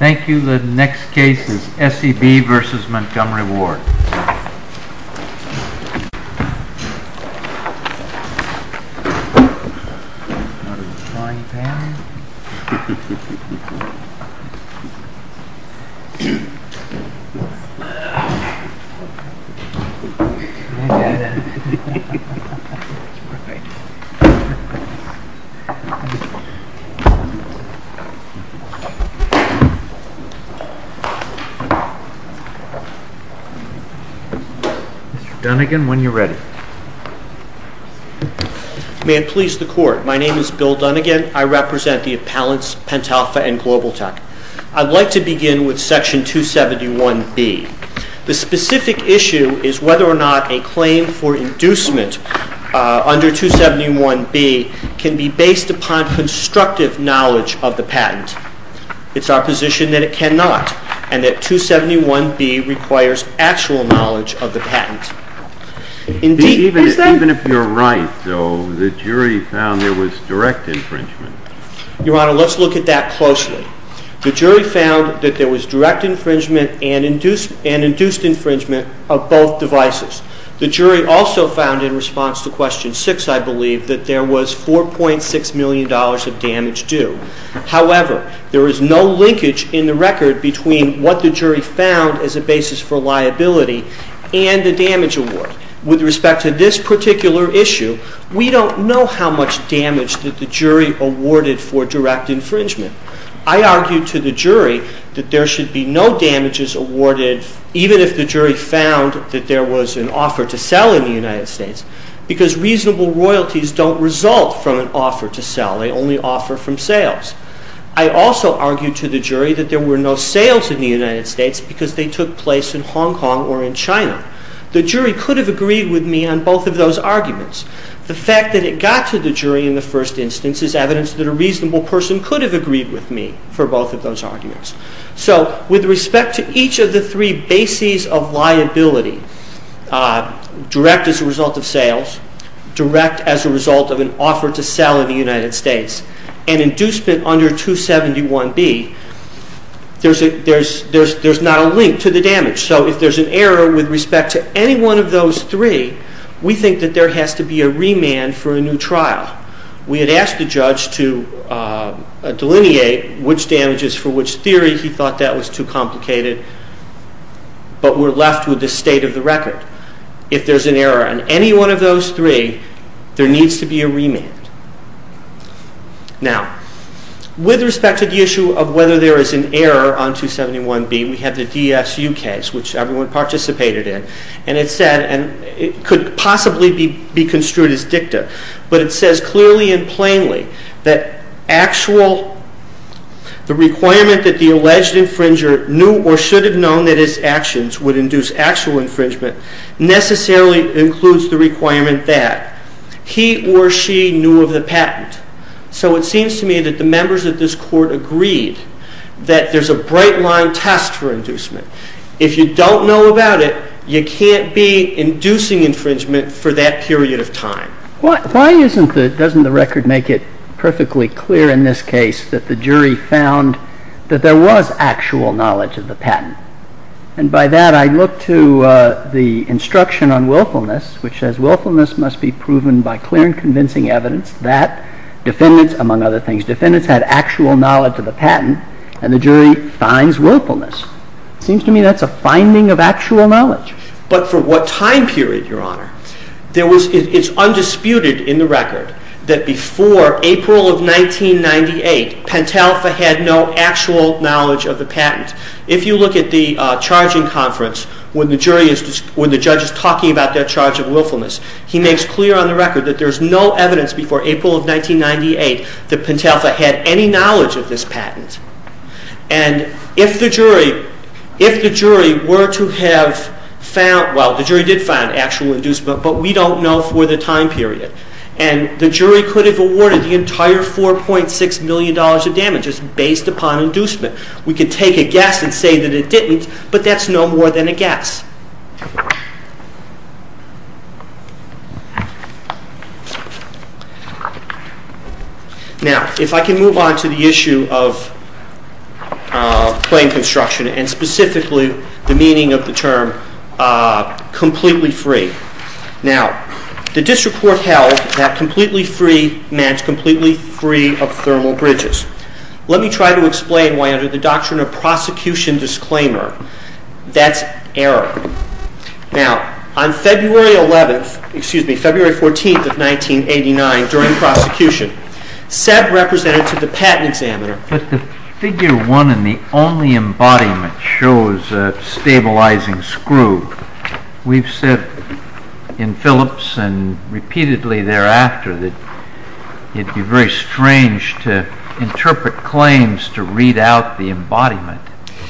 Thank you. The next case is SEB v. Montgomery Ward. Mr. Dunnigan, when you're ready. May it please the Court. My name is Bill Dunnigan. I represent the appellants, Pentalfa and Global Tech. I'd like to begin with Section 271B. The specific issue is whether or not a claim for inducement under 271B can be based upon constructive knowledge of the patent. It's our position that it cannot, and that 271B requires actual knowledge of the patent. Even if you're right, though, the jury found there was direct infringement. Your Honor, let's look at that closely. The jury found that there was direct infringement and induced infringement of both devices. The jury also found, in response to Question 6, I believe, that there was $4.6 million of damage due. However, there is no linkage in the record between what the jury found as a basis for liability and the damage award. With respect to this particular issue, we don't know how much damage that the jury awarded for direct infringement. I argue to the jury that there should be no damages awarded, even if the jury found that there was an offer to sell in the United States, because reasonable royalties don't result from an offer to sell. They only offer from sales. I also argue to the jury that there were no sales in the United States because they took place in Hong Kong or in China. The jury could have agreed with me on both of those arguments. The fact that it got to the jury in the first instance is evidence that a reasonable person could have agreed with me for both of those arguments. So with respect to each of the three bases of liability, direct as a result of sales, direct as a result of an offer to sell in the United States, and inducement under 271B, there's not a link to the damage. So if there's an error with respect to any one of those three, we think that there has to be a remand for a new trial. We had asked the judge to delineate which damages for which theory. He thought that was too complicated, but we're left with the state of the record. If there's an error on any one of those three, there needs to be a remand. Now, with respect to the issue of whether there is an error on 271B, we have the DSU case, which everyone participated in, and it could possibly be construed as dicta, but it says clearly and plainly that the requirement that the alleged infringer knew or should have known that his actions would induce actual infringement necessarily includes the requirement that he or she knew of the patent. So it seems to me that the members of this Court agreed that there's a bright line test for inducement. If you don't know about it, you can't be inducing infringement for that period of time. Why doesn't the record make it perfectly clear in this case that the jury found that there was actual knowledge of the patent? And by that, I look to the instruction on willfulness, which says willfulness must be proven by clear and convincing evidence that defendants, among other things, defendants had actual knowledge of the patent, and the jury finds willfulness. It seems to me that's a finding of actual knowledge. But for what time period, Your Honor? It's undisputed in the record that before April of 1998, Pentalpha had no actual knowledge of the patent. If you look at the charging conference when the judge is talking about their charge of willfulness, he makes clear on the record that there's no evidence before April of 1998 that Pentalpha had any knowledge of this patent. And if the jury were to have found, well, the jury did find actual inducement, but we don't know for the time period. And the jury could have awarded the entire $4.6 million of damages based upon inducement. We could take a guess and say that it didn't, but that's no more than a guess. Now, if I can move on to the issue of plain construction and specifically the meaning of the term completely free. Now, the district court held that completely free meant completely free of thermal bridges. Let me try to explain why under the doctrine of prosecution disclaimer, that's error. Now, on February 11th, excuse me, February 14th of 1989, during prosecution, Seb represented to the patent examiner. But the figure one in the only embodiment shows a stabilizing screw. We've said in Phillips and repeatedly thereafter that it'd be very strange to interpret claims to read out the embodiment.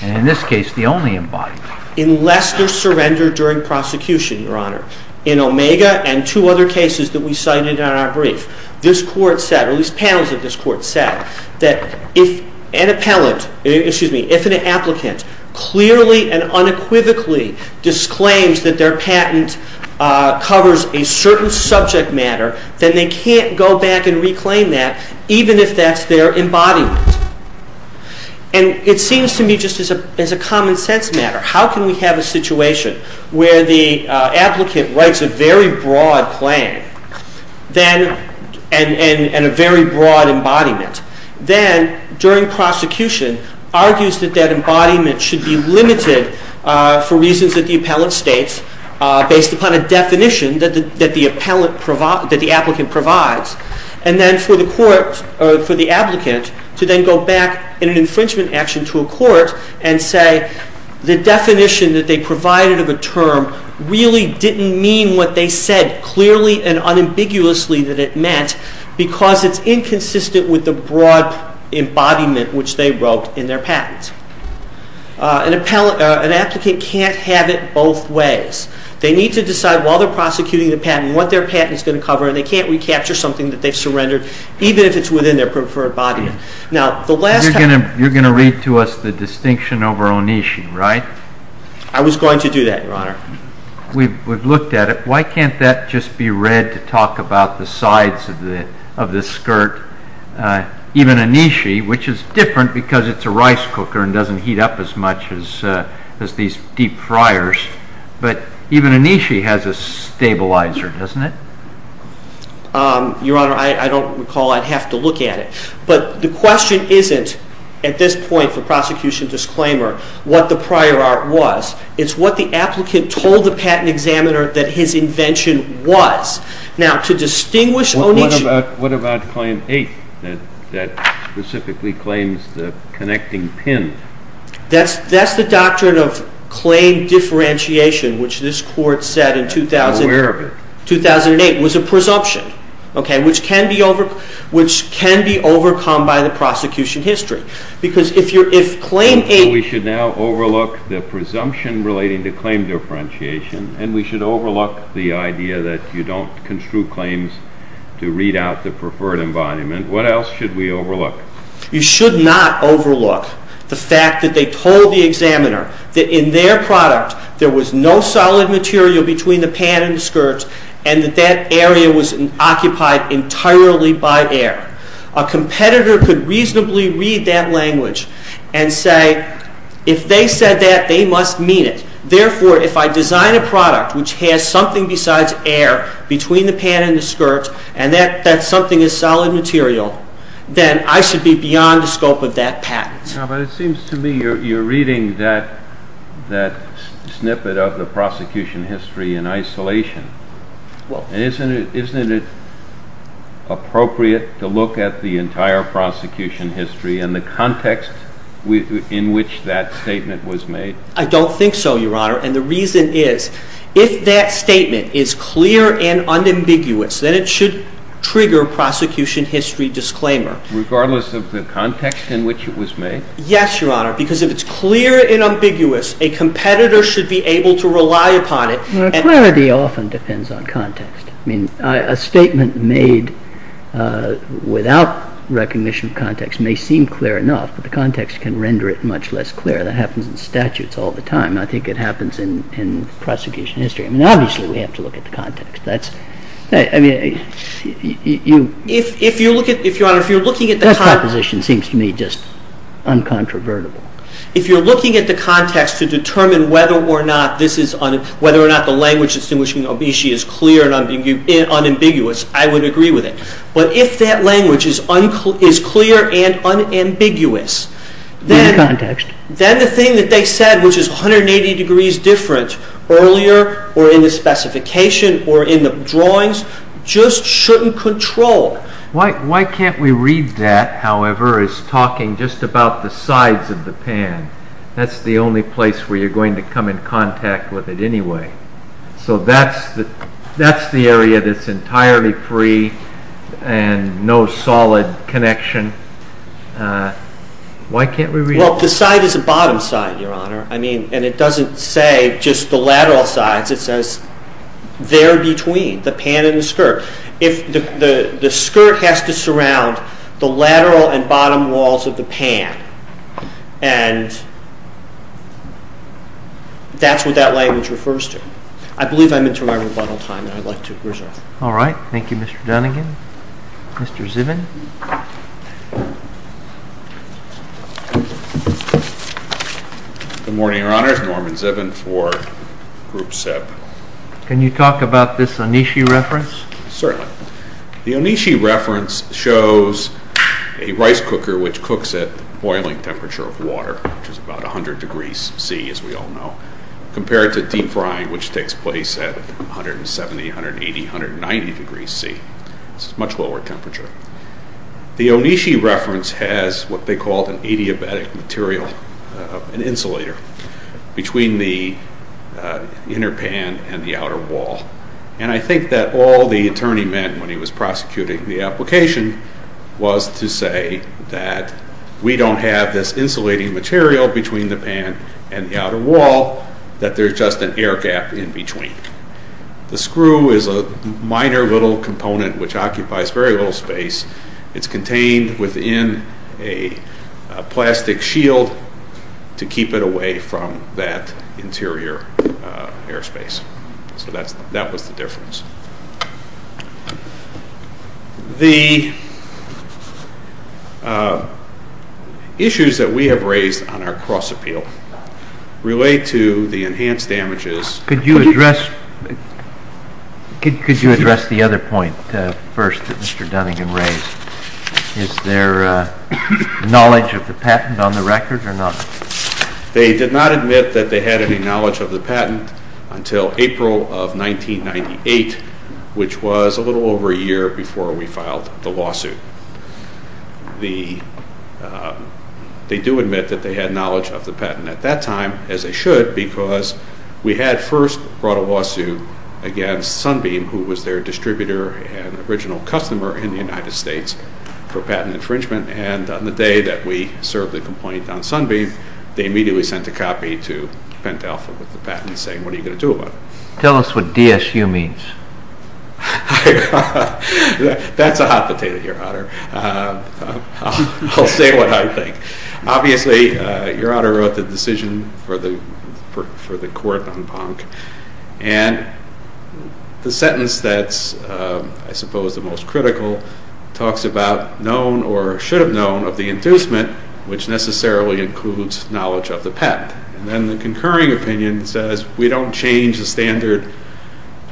And in this case, the only embodiment. In Lester's surrender during prosecution, Your Honor, in Omega and two other cases that we cited in our brief, this court said, or at least panels of this court said, that if an appellant, excuse me, if an applicant clearly and unequivocally disclaims that their patent covers a certain subject matter, then they can't go back and reclaim that, even if that's their embodiment. And it seems to me just as a common sense matter. How can we have a situation where the applicant writes a very broad claim and a very broad embodiment, then during prosecution argues that that embodiment should be limited for reasons that the appellant states, based upon a definition that the applicant provides, and then for the applicant to then go back in an infringement action to a court and say, the definition that they provided of a term really didn't mean what they said clearly and unambiguously that it meant, because it's inconsistent with the broad embodiment which they wrote in their patent. An applicant can't have it both ways. They need to decide while they're prosecuting the patent what their patent is going to cover, and they can't recapture something that they've surrendered, even if it's within their preferred embodiment. You're going to read to us the distinction over Onishi, right? I was going to do that, Your Honor. We've looked at it. Why can't that just be read to talk about the sides of the skirt? Even Onishi, which is different because it's a rice cooker and doesn't heat up as much as these deep fryers, but even Onishi has a stabilizer, doesn't it? Your Honor, I don't recall I'd have to look at it. But the question isn't, at this point for prosecution disclaimer, what the prior art was. It's what the applicant told the patent examiner that his invention was. Now, to distinguish Onishi... What about Claim 8 that specifically claims the connecting pin? That's the doctrine of claim differentiation, which this Court said in 2008 was a presumption, which can be overcome by the prosecution history. Because if Claim 8... We should now overlook the presumption relating to claim differentiation, and we should overlook the idea that you don't construe claims to read out the preferred embodiment. What else should we overlook? You should not overlook the fact that they told the examiner that in their product there was no solid material between the pad and the skirt, and that that area was occupied entirely by air. A competitor could reasonably read that language and say, if they said that, they must mean it. Therefore, if I design a product which has something besides air between the pad and the skirt, and that something is solid material, then I should be beyond the scope of that patent. But it seems to me you're reading that snippet of the prosecution history in isolation. Isn't it appropriate to look at the entire prosecution history and the context in which that statement was made? I don't think so, Your Honor, and the reason is, if that statement is clear and unambiguous, then it should trigger prosecution history disclaimer. Regardless of the context in which it was made? Yes, Your Honor, because if it's clear and ambiguous, a competitor should be able to rely upon it. Clarity often depends on context. I mean, a statement made without recognition of context may seem clear enough, but the context can render it much less clear. That happens in statutes all the time. I think it happens in prosecution history. I mean, obviously, we have to look at the context. That's, I mean, you... If you look at, Your Honor, if you're looking at the... That proposition seems to me just uncontrovertible. If you're looking at the context to determine whether or not this is, whether or not the language distinguishing obesity is clear and unambiguous, I would agree with it. In context. Then the thing that they said, which is 180 degrees different, earlier or in the specification or in the drawings, just shouldn't control. Why can't we read that, however, as talking just about the sides of the pan? That's the only place where you're going to come in contact with it anyway. So that's the area that's entirely free and no solid connection. Why can't we read it? Well, the side is the bottom side, Your Honor. I mean, and it doesn't say just the lateral sides. It says there between, the pan and the skirt. The skirt has to surround the lateral and bottom walls of the pan, and that's what that language refers to. I believe I'm into my rebuttal time, and I'd like to resign. All right. Thank you, Mr. Dunnegan. Mr. Zivin. Good morning, Your Honor. It's Norman Zivin for Group SEB. Can you talk about this Onishi reference? Certainly. The Onishi reference shows a rice cooker which cooks at the boiling temperature of water, which is about 100 degrees C, as we all know, compared to deep frying, which takes place at 170, 180, 190 degrees C. It's a much lower temperature. The Onishi reference has what they called an adiabatic material, an insulator, between the inner pan and the outer wall. And I think that all the attorney meant when he was prosecuting the application was to say that we don't have this insulating material between the pan and the outer wall, that there's just an air gap in between. The screw is a minor little component which occupies very little space. It's contained within a plastic shield to keep it away from that interior airspace. So that was the difference. The issues that we have raised on our cross appeal relate to the enhanced damages. Could you address the other point first that Mr. Dunning had raised? Is there knowledge of the patent on the record or not? They did not admit that they had any knowledge of the patent until April of 1998, which was a little over a year before we filed the lawsuit. They do admit that they had knowledge of the patent at that time, as they should, because we had first brought a lawsuit against Sunbeam, who was their distributor and original customer in the United States, for patent infringement. And on the day that we served the complaint on Sunbeam, they immediately sent a copy to Pent Alpha with the patent saying, what are you going to do about it? Tell us what DSU means. That's a hot potato here, Honor. I'll say what I think. Obviously, Your Honor wrote the decision for the court on Ponk, and the sentence that's, I suppose, the most critical, talks about known or should have known of the inducement, which necessarily includes knowledge of the patent. And then the concurring opinion says, we don't change the standard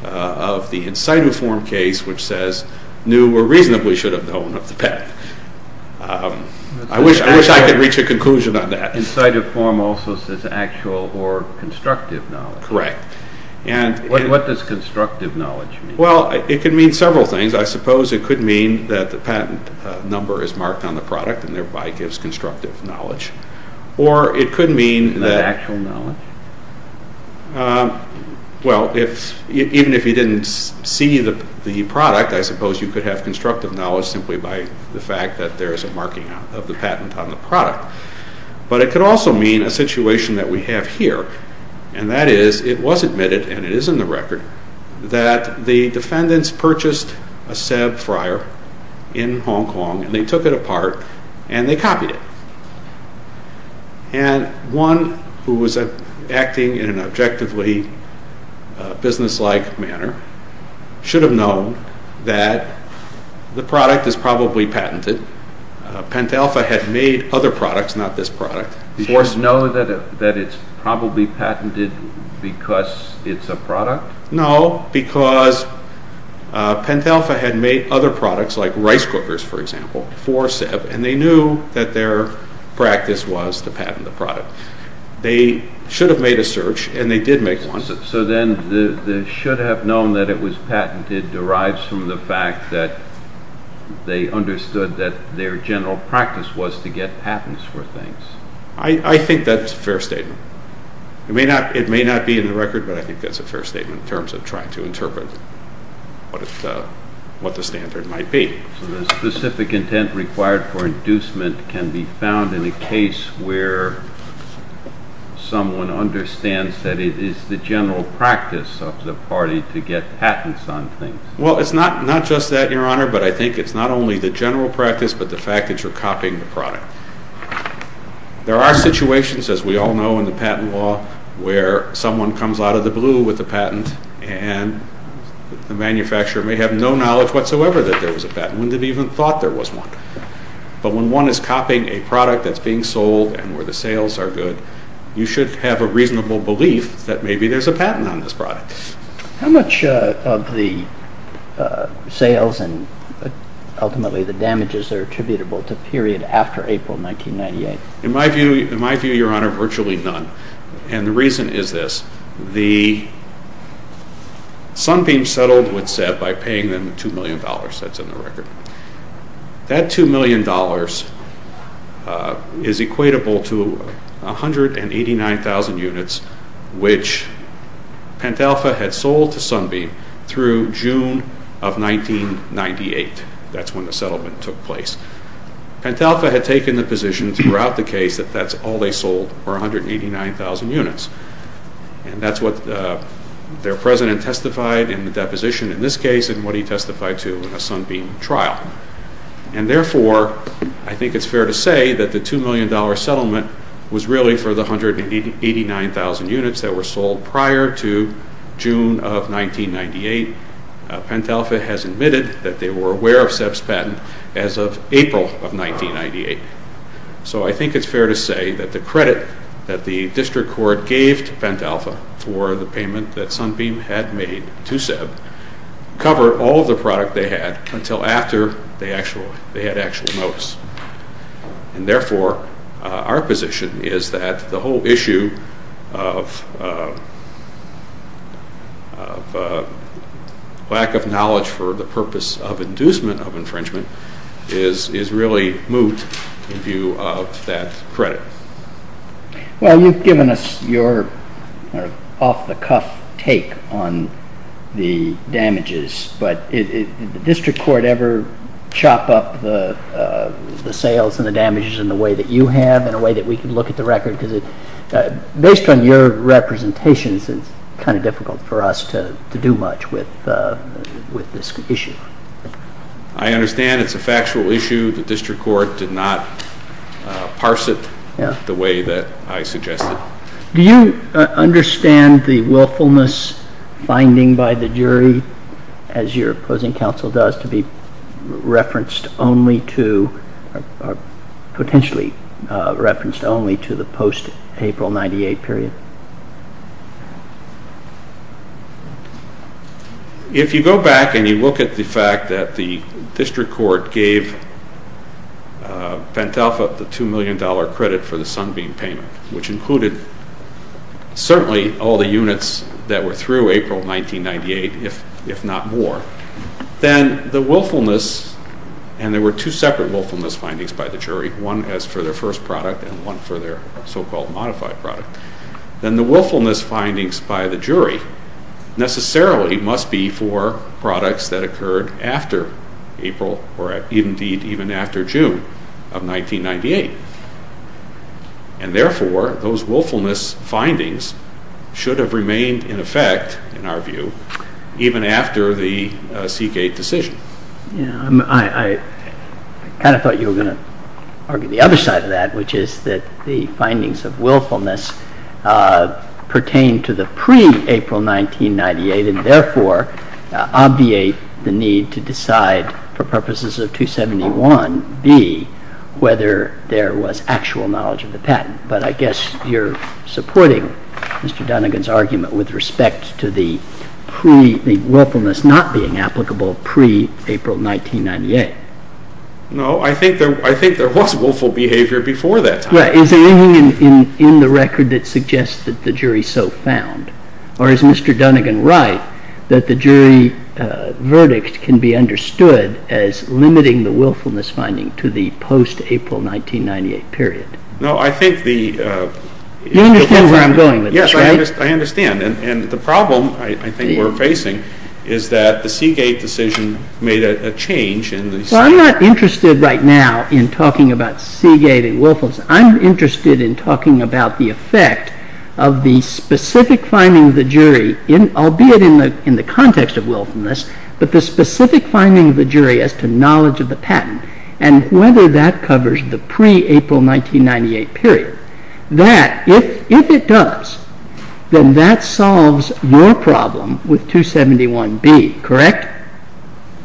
of the incitiform case, which says, knew or reasonably should have known of the patent. I wish I could reach a conclusion on that. Incitiform also says actual or constructive knowledge. Correct. What does constructive knowledge mean? Well, it can mean several things. I suppose it could mean that the patent number is marked on the product and thereby gives constructive knowledge. Or it could mean that... Not actual knowledge? Well, even if you didn't see the product, I suppose you could have constructive knowledge simply by the fact that there is a marking of the patent on the product. But it could also mean a situation that we have here, and that is, it was admitted, and it is in the record, that the defendants purchased a Ceb fryer in Hong Kong, and they took it apart, and they copied it. And one who was acting in an objectively business-like manner should have known that the product is probably patented. Pentelpha had made other products, not this product. Did you know that it is probably patented because it is a product? No, because Pentelpha had made other products, like rice cookers, for example, for Ceb, and they knew that their practice was to patent the product. They should have made a search, and they did make one. So then, the should have known that it was patented derives from the fact that they understood that their general practice was to get patents for things. I think that is a fair statement. It may not be in the record, but I think that is a fair statement in terms of trying to interpret what the standard might be. The specific intent required for inducement can be found in a case where someone understands that it is the general practice of the party to get patents on things. Well, it is not just that, Your Honor, but I think it is not only the general practice, but the fact that you are copying the product. There are situations, as we all know in the patent law, where someone comes out of the blue with a patent, and the manufacturer may have no knowledge whatsoever that there was a patent, wouldn't have even thought there was one. But when one is copying a product that is being sold and where the sales are good, you should have a reasonable belief that maybe there is a patent on this product. How much of the sales and ultimately the damages are attributable to period after April 1998? In my view, Your Honor, virtually none. And the reason is this. The Sunbeam settled with Seb by paying them $2 million. That is in the record. That $2 million is equatable to 189,000 units which Pentalpha had sold to Sunbeam through June of 1998. That is when the settlement took place. Pentalpha had taken the position throughout the case that that is all they sold were 189,000 units. And that is what their president testified in the deposition in this case and what he testified to in a Sunbeam trial. And therefore, I think it is fair to say that the $2 million settlement was really for the 189,000 units that were sold prior to June of 1998. Pentalpha has admitted that they were aware of Seb's patent as of April of 1998. So I think it is fair to say that the credit that the district court gave to Pentalpha for the payment that Sunbeam had made to Seb covered all of the product they had until after they had actual notice. And therefore, our position is that the whole issue of lack of knowledge for the purpose of inducement of infringement is really moot in view of that credit. Well, you have given us your off-the-cuff take on the damages, but did the district court ever chop up the sales and the damages in the way that you have, in a way that we can look at the record? Because based on your representations, it is kind of difficult for us to do much with this issue. I understand it is a factual issue. The district court did not parse it the way that I suggested. Do you understand the willfulness finding by the jury, as your opposing counsel does, to be referenced only to the post-April 1998 period? If you go back and you look at the fact that the district court gave Pentelpha the $2 million credit for the Sunbeam payment, which included certainly all the units that were through April 1998, if not more, then the willfulness, and there were two separate willfulness findings by the jury, one as for their first product and one for their so-called modified product, then the willfulness findings by the jury necessarily must be for products that occurred after April, or indeed even after June of 1998. And therefore, those willfulness findings should have remained in effect, in our view, even after the Seagate decision. I kind of thought you were going to argue the other side of that, which is that the findings of willfulness pertain to the pre-April 1998 and therefore obviate the need to decide, for purposes of 271b, whether there was actual knowledge of the patent. But I guess you're supporting Mr. Dunnegan's argument with respect to the willfulness not being applicable pre-April 1998. No, I think there was willful behavior before that time. Is there anything in the record that suggests that the jury so found? Or is Mr. Dunnegan right that the jury verdict can be understood as limiting the willfulness finding to the post-April 1998 period? No, I think the... You understand where I'm going with this, right? Yes, I understand. And the problem I think we're facing is that the Seagate decision made a change in the... I'm not interested right now in talking about Seagate and willfulness. I'm interested in talking about the effect of the specific finding of the jury, albeit in the context of willfulness, but the specific finding of the jury as to knowledge of the patent and whether that covers the pre-April 1998 period. That, if it does, then that solves your problem with 271b, correct?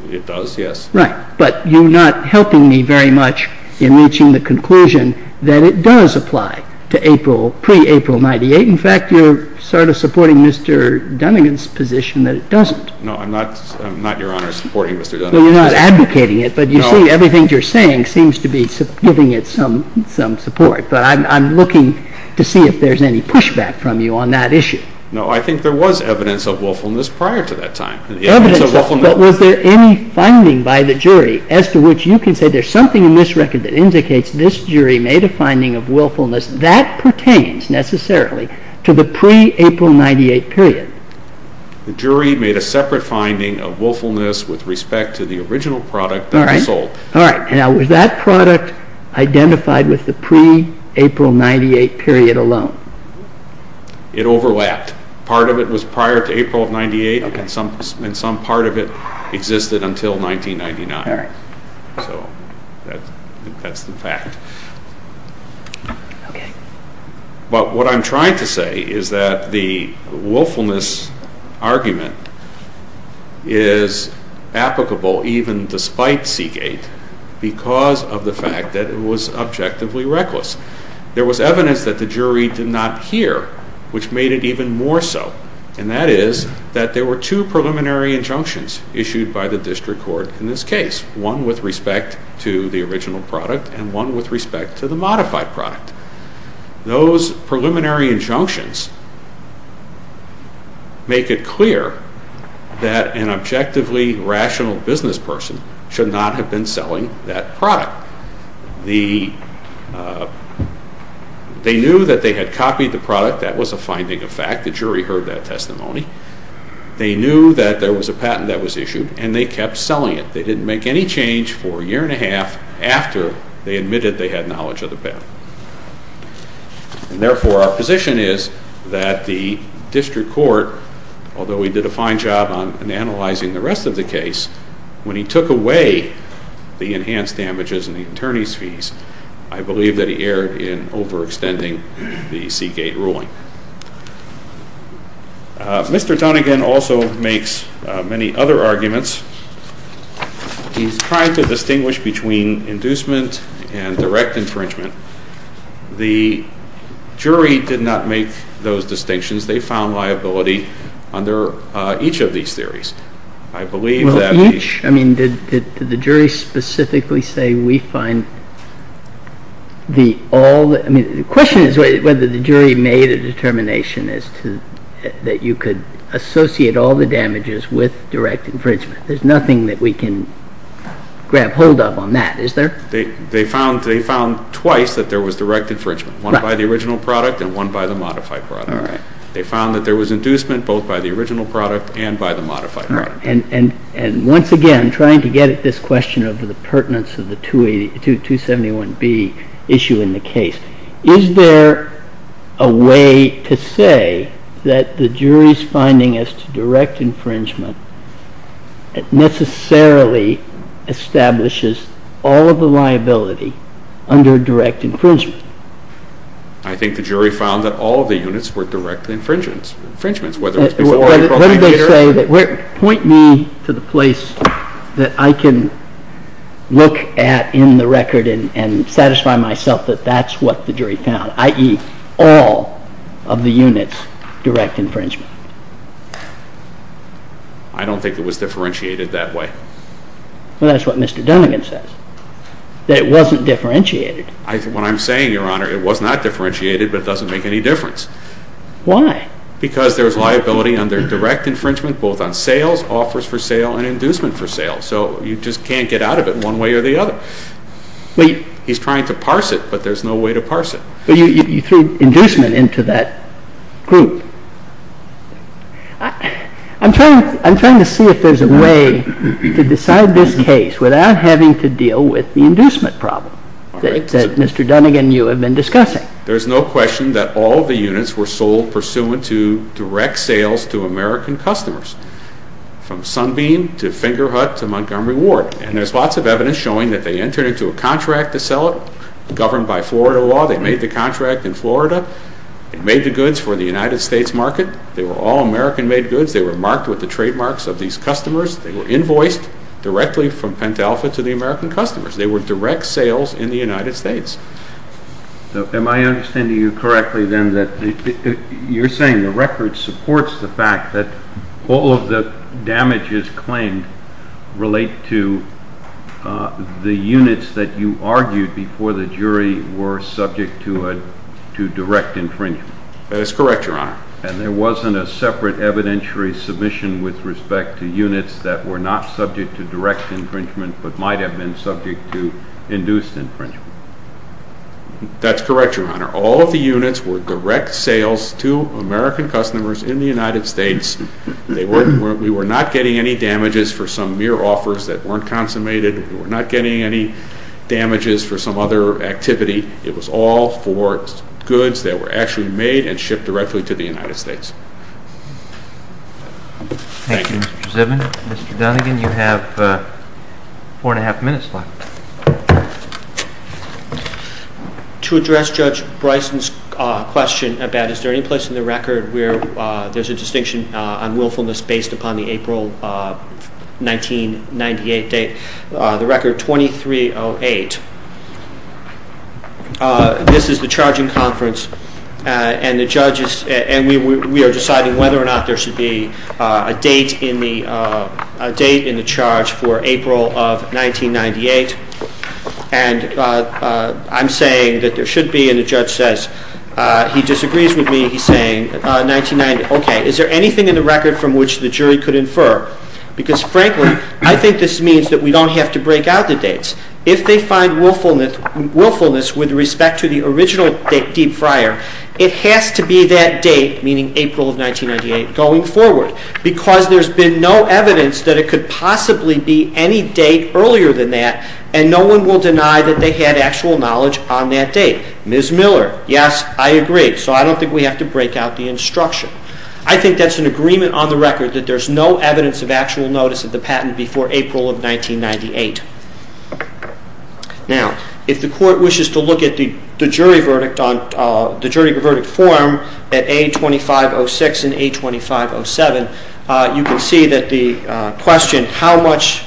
It does, yes. Right, but you're not helping me very much in reaching the conclusion that it does apply to pre-April 1998. In fact, you're sort of supporting Mr. Dunnegan's position that it doesn't. No, I'm not, Your Honor, supporting Mr. Dunnegan's position. Well, you're not advocating it, but you see everything you're saying seems to be giving it some support. But I'm looking to see if there's any pushback from you on that issue. No, I think there was evidence of willfulness prior to that time. Evidence of willfulness? But was there any finding by the jury as to which you can say there's something in this record that indicates this jury made a finding of willfulness that pertains necessarily to the pre-April 1998 period? The jury made a separate finding of willfulness with respect to the original product that was sold. All right. Now, was that product identified with the pre-April 1998 period alone? It overlapped. Part of it was prior to April of 1998, and some part of it existed until 1999. All right. So that's the fact. Okay. But what I'm trying to say is that the willfulness argument is applicable even despite Seagate because of the fact that it was objectively reckless. There was evidence that the jury did not hear, which made it even more so, and that is that there were two preliminary injunctions issued by the district court in this case, one with respect to the original product and one with respect to the modified product. Those preliminary injunctions make it clear that an objectively rational business person should not have been selling that product. They knew that they had copied the product. That was a finding of fact. The jury heard that testimony. They knew that there was a patent that was issued, and they kept selling it. They didn't make any change for a year and a half after they admitted they had knowledge of the patent. And therefore, our position is that the district court, although he did a fine job on analyzing the rest of the case, when he took away the enhanced damages and the attorney's fees, I believe that he erred in overextending the Seagate ruling. Mr. Donegan also makes many other arguments. He's trying to distinguish between inducement and direct infringement. The jury did not make those distinctions. They found liability under each of these theories. I believe that the... Well, each? I mean, did the jury specifically say we find all the... I mean, the question is whether the jury made a determination as to that you could associate all the damages with direct infringement. There's nothing that we can grab hold of on that, is there? They found twice that there was direct infringement, one by the original product and one by the modified product. They found that there was inducement both by the original product and by the modified product. And once again, trying to get at this question of the pertinence of the 271B issue in the case, is there a way to say that the jury's finding as to direct infringement necessarily establishes all of the liability under direct infringement? I think the jury found that all of the units were direct infringements, whether it was... What did they say that... Point me to the place that I can look at in the record and satisfy myself that that's what the jury found, i.e., all of the units direct infringement. I don't think it was differentiated that way. Well, that's what Mr. Dunnegan says, that it wasn't differentiated. What I'm saying, Your Honor, it was not differentiated, but it doesn't make any difference. Why? Because there's liability under direct infringement both on sales, offers for sale, and inducement for sale. So you just can't get out of it one way or the other. He's trying to parse it, but there's no way to parse it. But you threw inducement into that group. I'm trying to see if there's a way to decide this case without having to deal with the inducement problem that Mr. Dunnegan and you have been discussing. There's no question that all of the units were sold pursuant to direct sales to American customers from Sunbeam to Fingerhut to Montgomery Ward. And there's lots of evidence showing that they entered into a contract to sell it governed by Florida law. They made the contract in Florida. They made the goods for the United States market. They were all American-made goods. They were marked with the trademarks of these customers. They were invoiced directly from Pent Alpha to the American customers. They were direct sales in the United States. Am I understanding you correctly, then, that you're saying the record supports the fact that all of the damages claimed relate to the units that you argued before the jury were subject to direct infringement? That is correct, Your Honor. And there wasn't a separate evidentiary submission with respect to units that were not subject to direct infringement but might have been subject to induced infringement. That's correct, Your Honor. All of the units were direct sales to American customers in the United States. We were not getting any damages for some mere offers that weren't consummated. We were not getting any damages for some other activity. It was all for goods that were actually made and shipped directly to the United States. Thank you, Mr. Zibin. Mr. Dunnigan, you have four and a half minutes left. To address Judge Bryson's question about is there any place in the record where there's a distinction on willfulness based upon the April 1998 date, the record 2308, this is the charging conference and we are deciding whether or not there should be a date in the charge for April of 1998. And I'm saying that there should be, and the judge says he disagrees with me. He's saying, okay, is there anything in the record from which the jury could infer? Because frankly, I think this means that we don't have to break out the dates. If they find willfulness with respect to the original Deep Friar, it has to be that date, meaning April of 1998 going forward. Because there's been no evidence that it could possibly be any date earlier than that and no one will deny that they had actual knowledge on that date. Ms. Miller, yes, I agree. So I don't think we have to break out the instruction. I think that's an agreement on the record that there's no evidence of actual notice of the patent before April of 1998. Now, if the court wishes to look at the jury verdict form at A2506 and A2507, you can see that the question, how much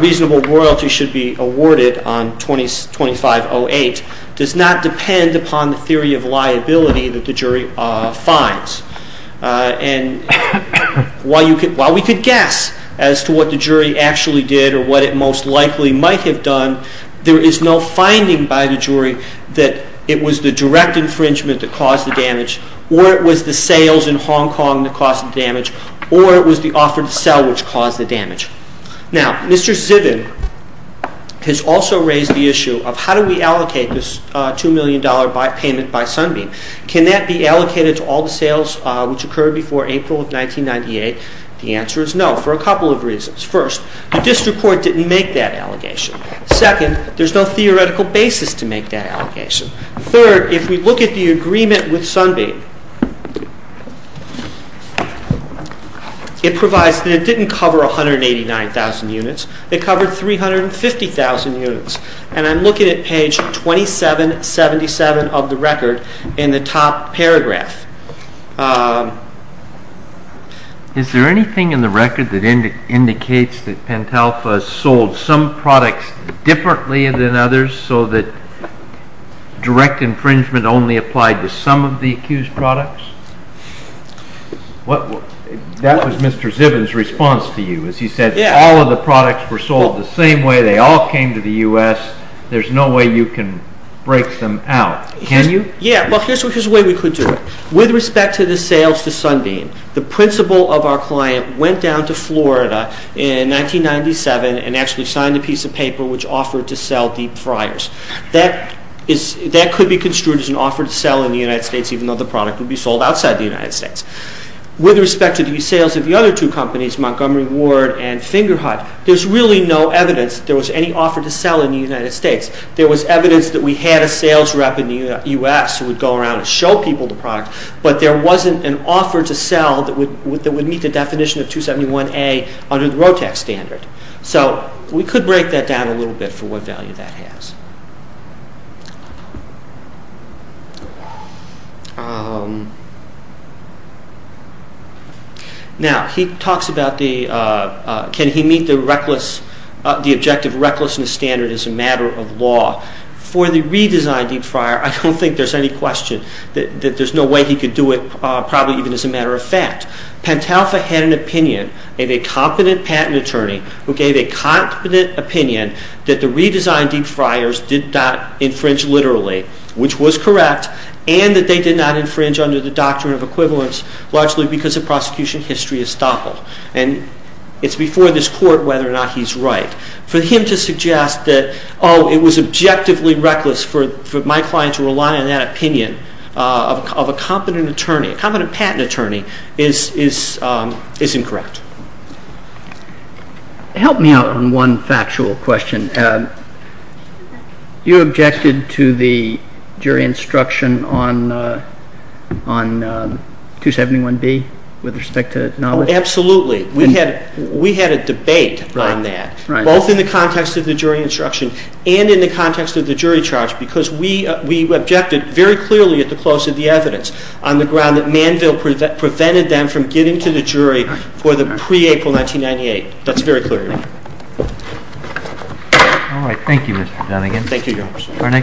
reasonable royalty should be awarded on 2508, does not depend upon the theory of liability that the jury finds. And while we could guess as to what the jury actually did or what it most likely might have done, there is no finding by the jury that it was the direct infringement that caused the damage, or it was the sales in Hong Kong that caused the damage, or it was the offer to sell which caused the damage. Now, Mr. Zibin has also raised the issue of how do we allocate this $2 million payment by Sunbeam. Can that be allocated to all the sales which occurred before April of 1998? The answer is no, for a couple of reasons. First, the district court didn't make that allegation. Second, there's no theoretical basis to make that allegation. Third, if we look at the agreement with Sunbeam, it provides that it didn't cover 189,000 units, it covered 350,000 units. And I'm looking at page 2777 of the record in the top paragraph. Is there anything in the record that indicates that Pentalpha sold some products differently than others so that direct infringement only applied to some of the accused products? That was Mr. Zibin's response to you, as he said, all of the products were sold the same way, they all came to the U.S., there's no way you can break them out. Can you? Yeah, well, here's a way we could do it. With respect to the sales to Sunbeam, the principal of our client went down to Florida in 1997 and actually signed a piece of paper which offered to sell Deep Fryers. That could be construed as an offer to sell in the United States, even though the product would be sold outside the United States. With respect to the sales of the other two companies, Montgomery Ward and Fingerhut, there's really no evidence there was any offer to sell in the United States. There was evidence that we had a sales rep in the U.S. who would go around and show people the product, but there wasn't an offer to sell that would meet the definition of 271A under the ROTAC standard. So we could break that down a little bit for what value that has. Now, he talks about can he meet the objective recklessness standard as a matter of law. For the redesigned Deep Fryer, I don't think there's any question that there's no way he could do it probably even as a matter of fact. Pentalpha had an opinion of a competent patent attorney who gave a competent opinion that the redesigned Deep Fryers did not infringe literally, which was correct, and that they did not infringe under the doctrine of equivalence largely because the prosecution history is stoppable. And it's before this court whether or not he's right. For him to suggest that, oh, it was objectively reckless for my client to rely on that opinion of a competent attorney, a competent patent attorney, is incorrect. Help me out on one factual question. You objected to the jury instruction on 271B with respect to knowledge? Absolutely. We had a debate on that, both in the context of the jury instruction and in the context of the jury charge because we objected very clearly at the close of the evidence on the ground that Manville prevented them from getting to the jury for the pre-April 1998. That's very clear to me. All right. Thank you, Mr. Dunnegan. Thank you, Your Honor.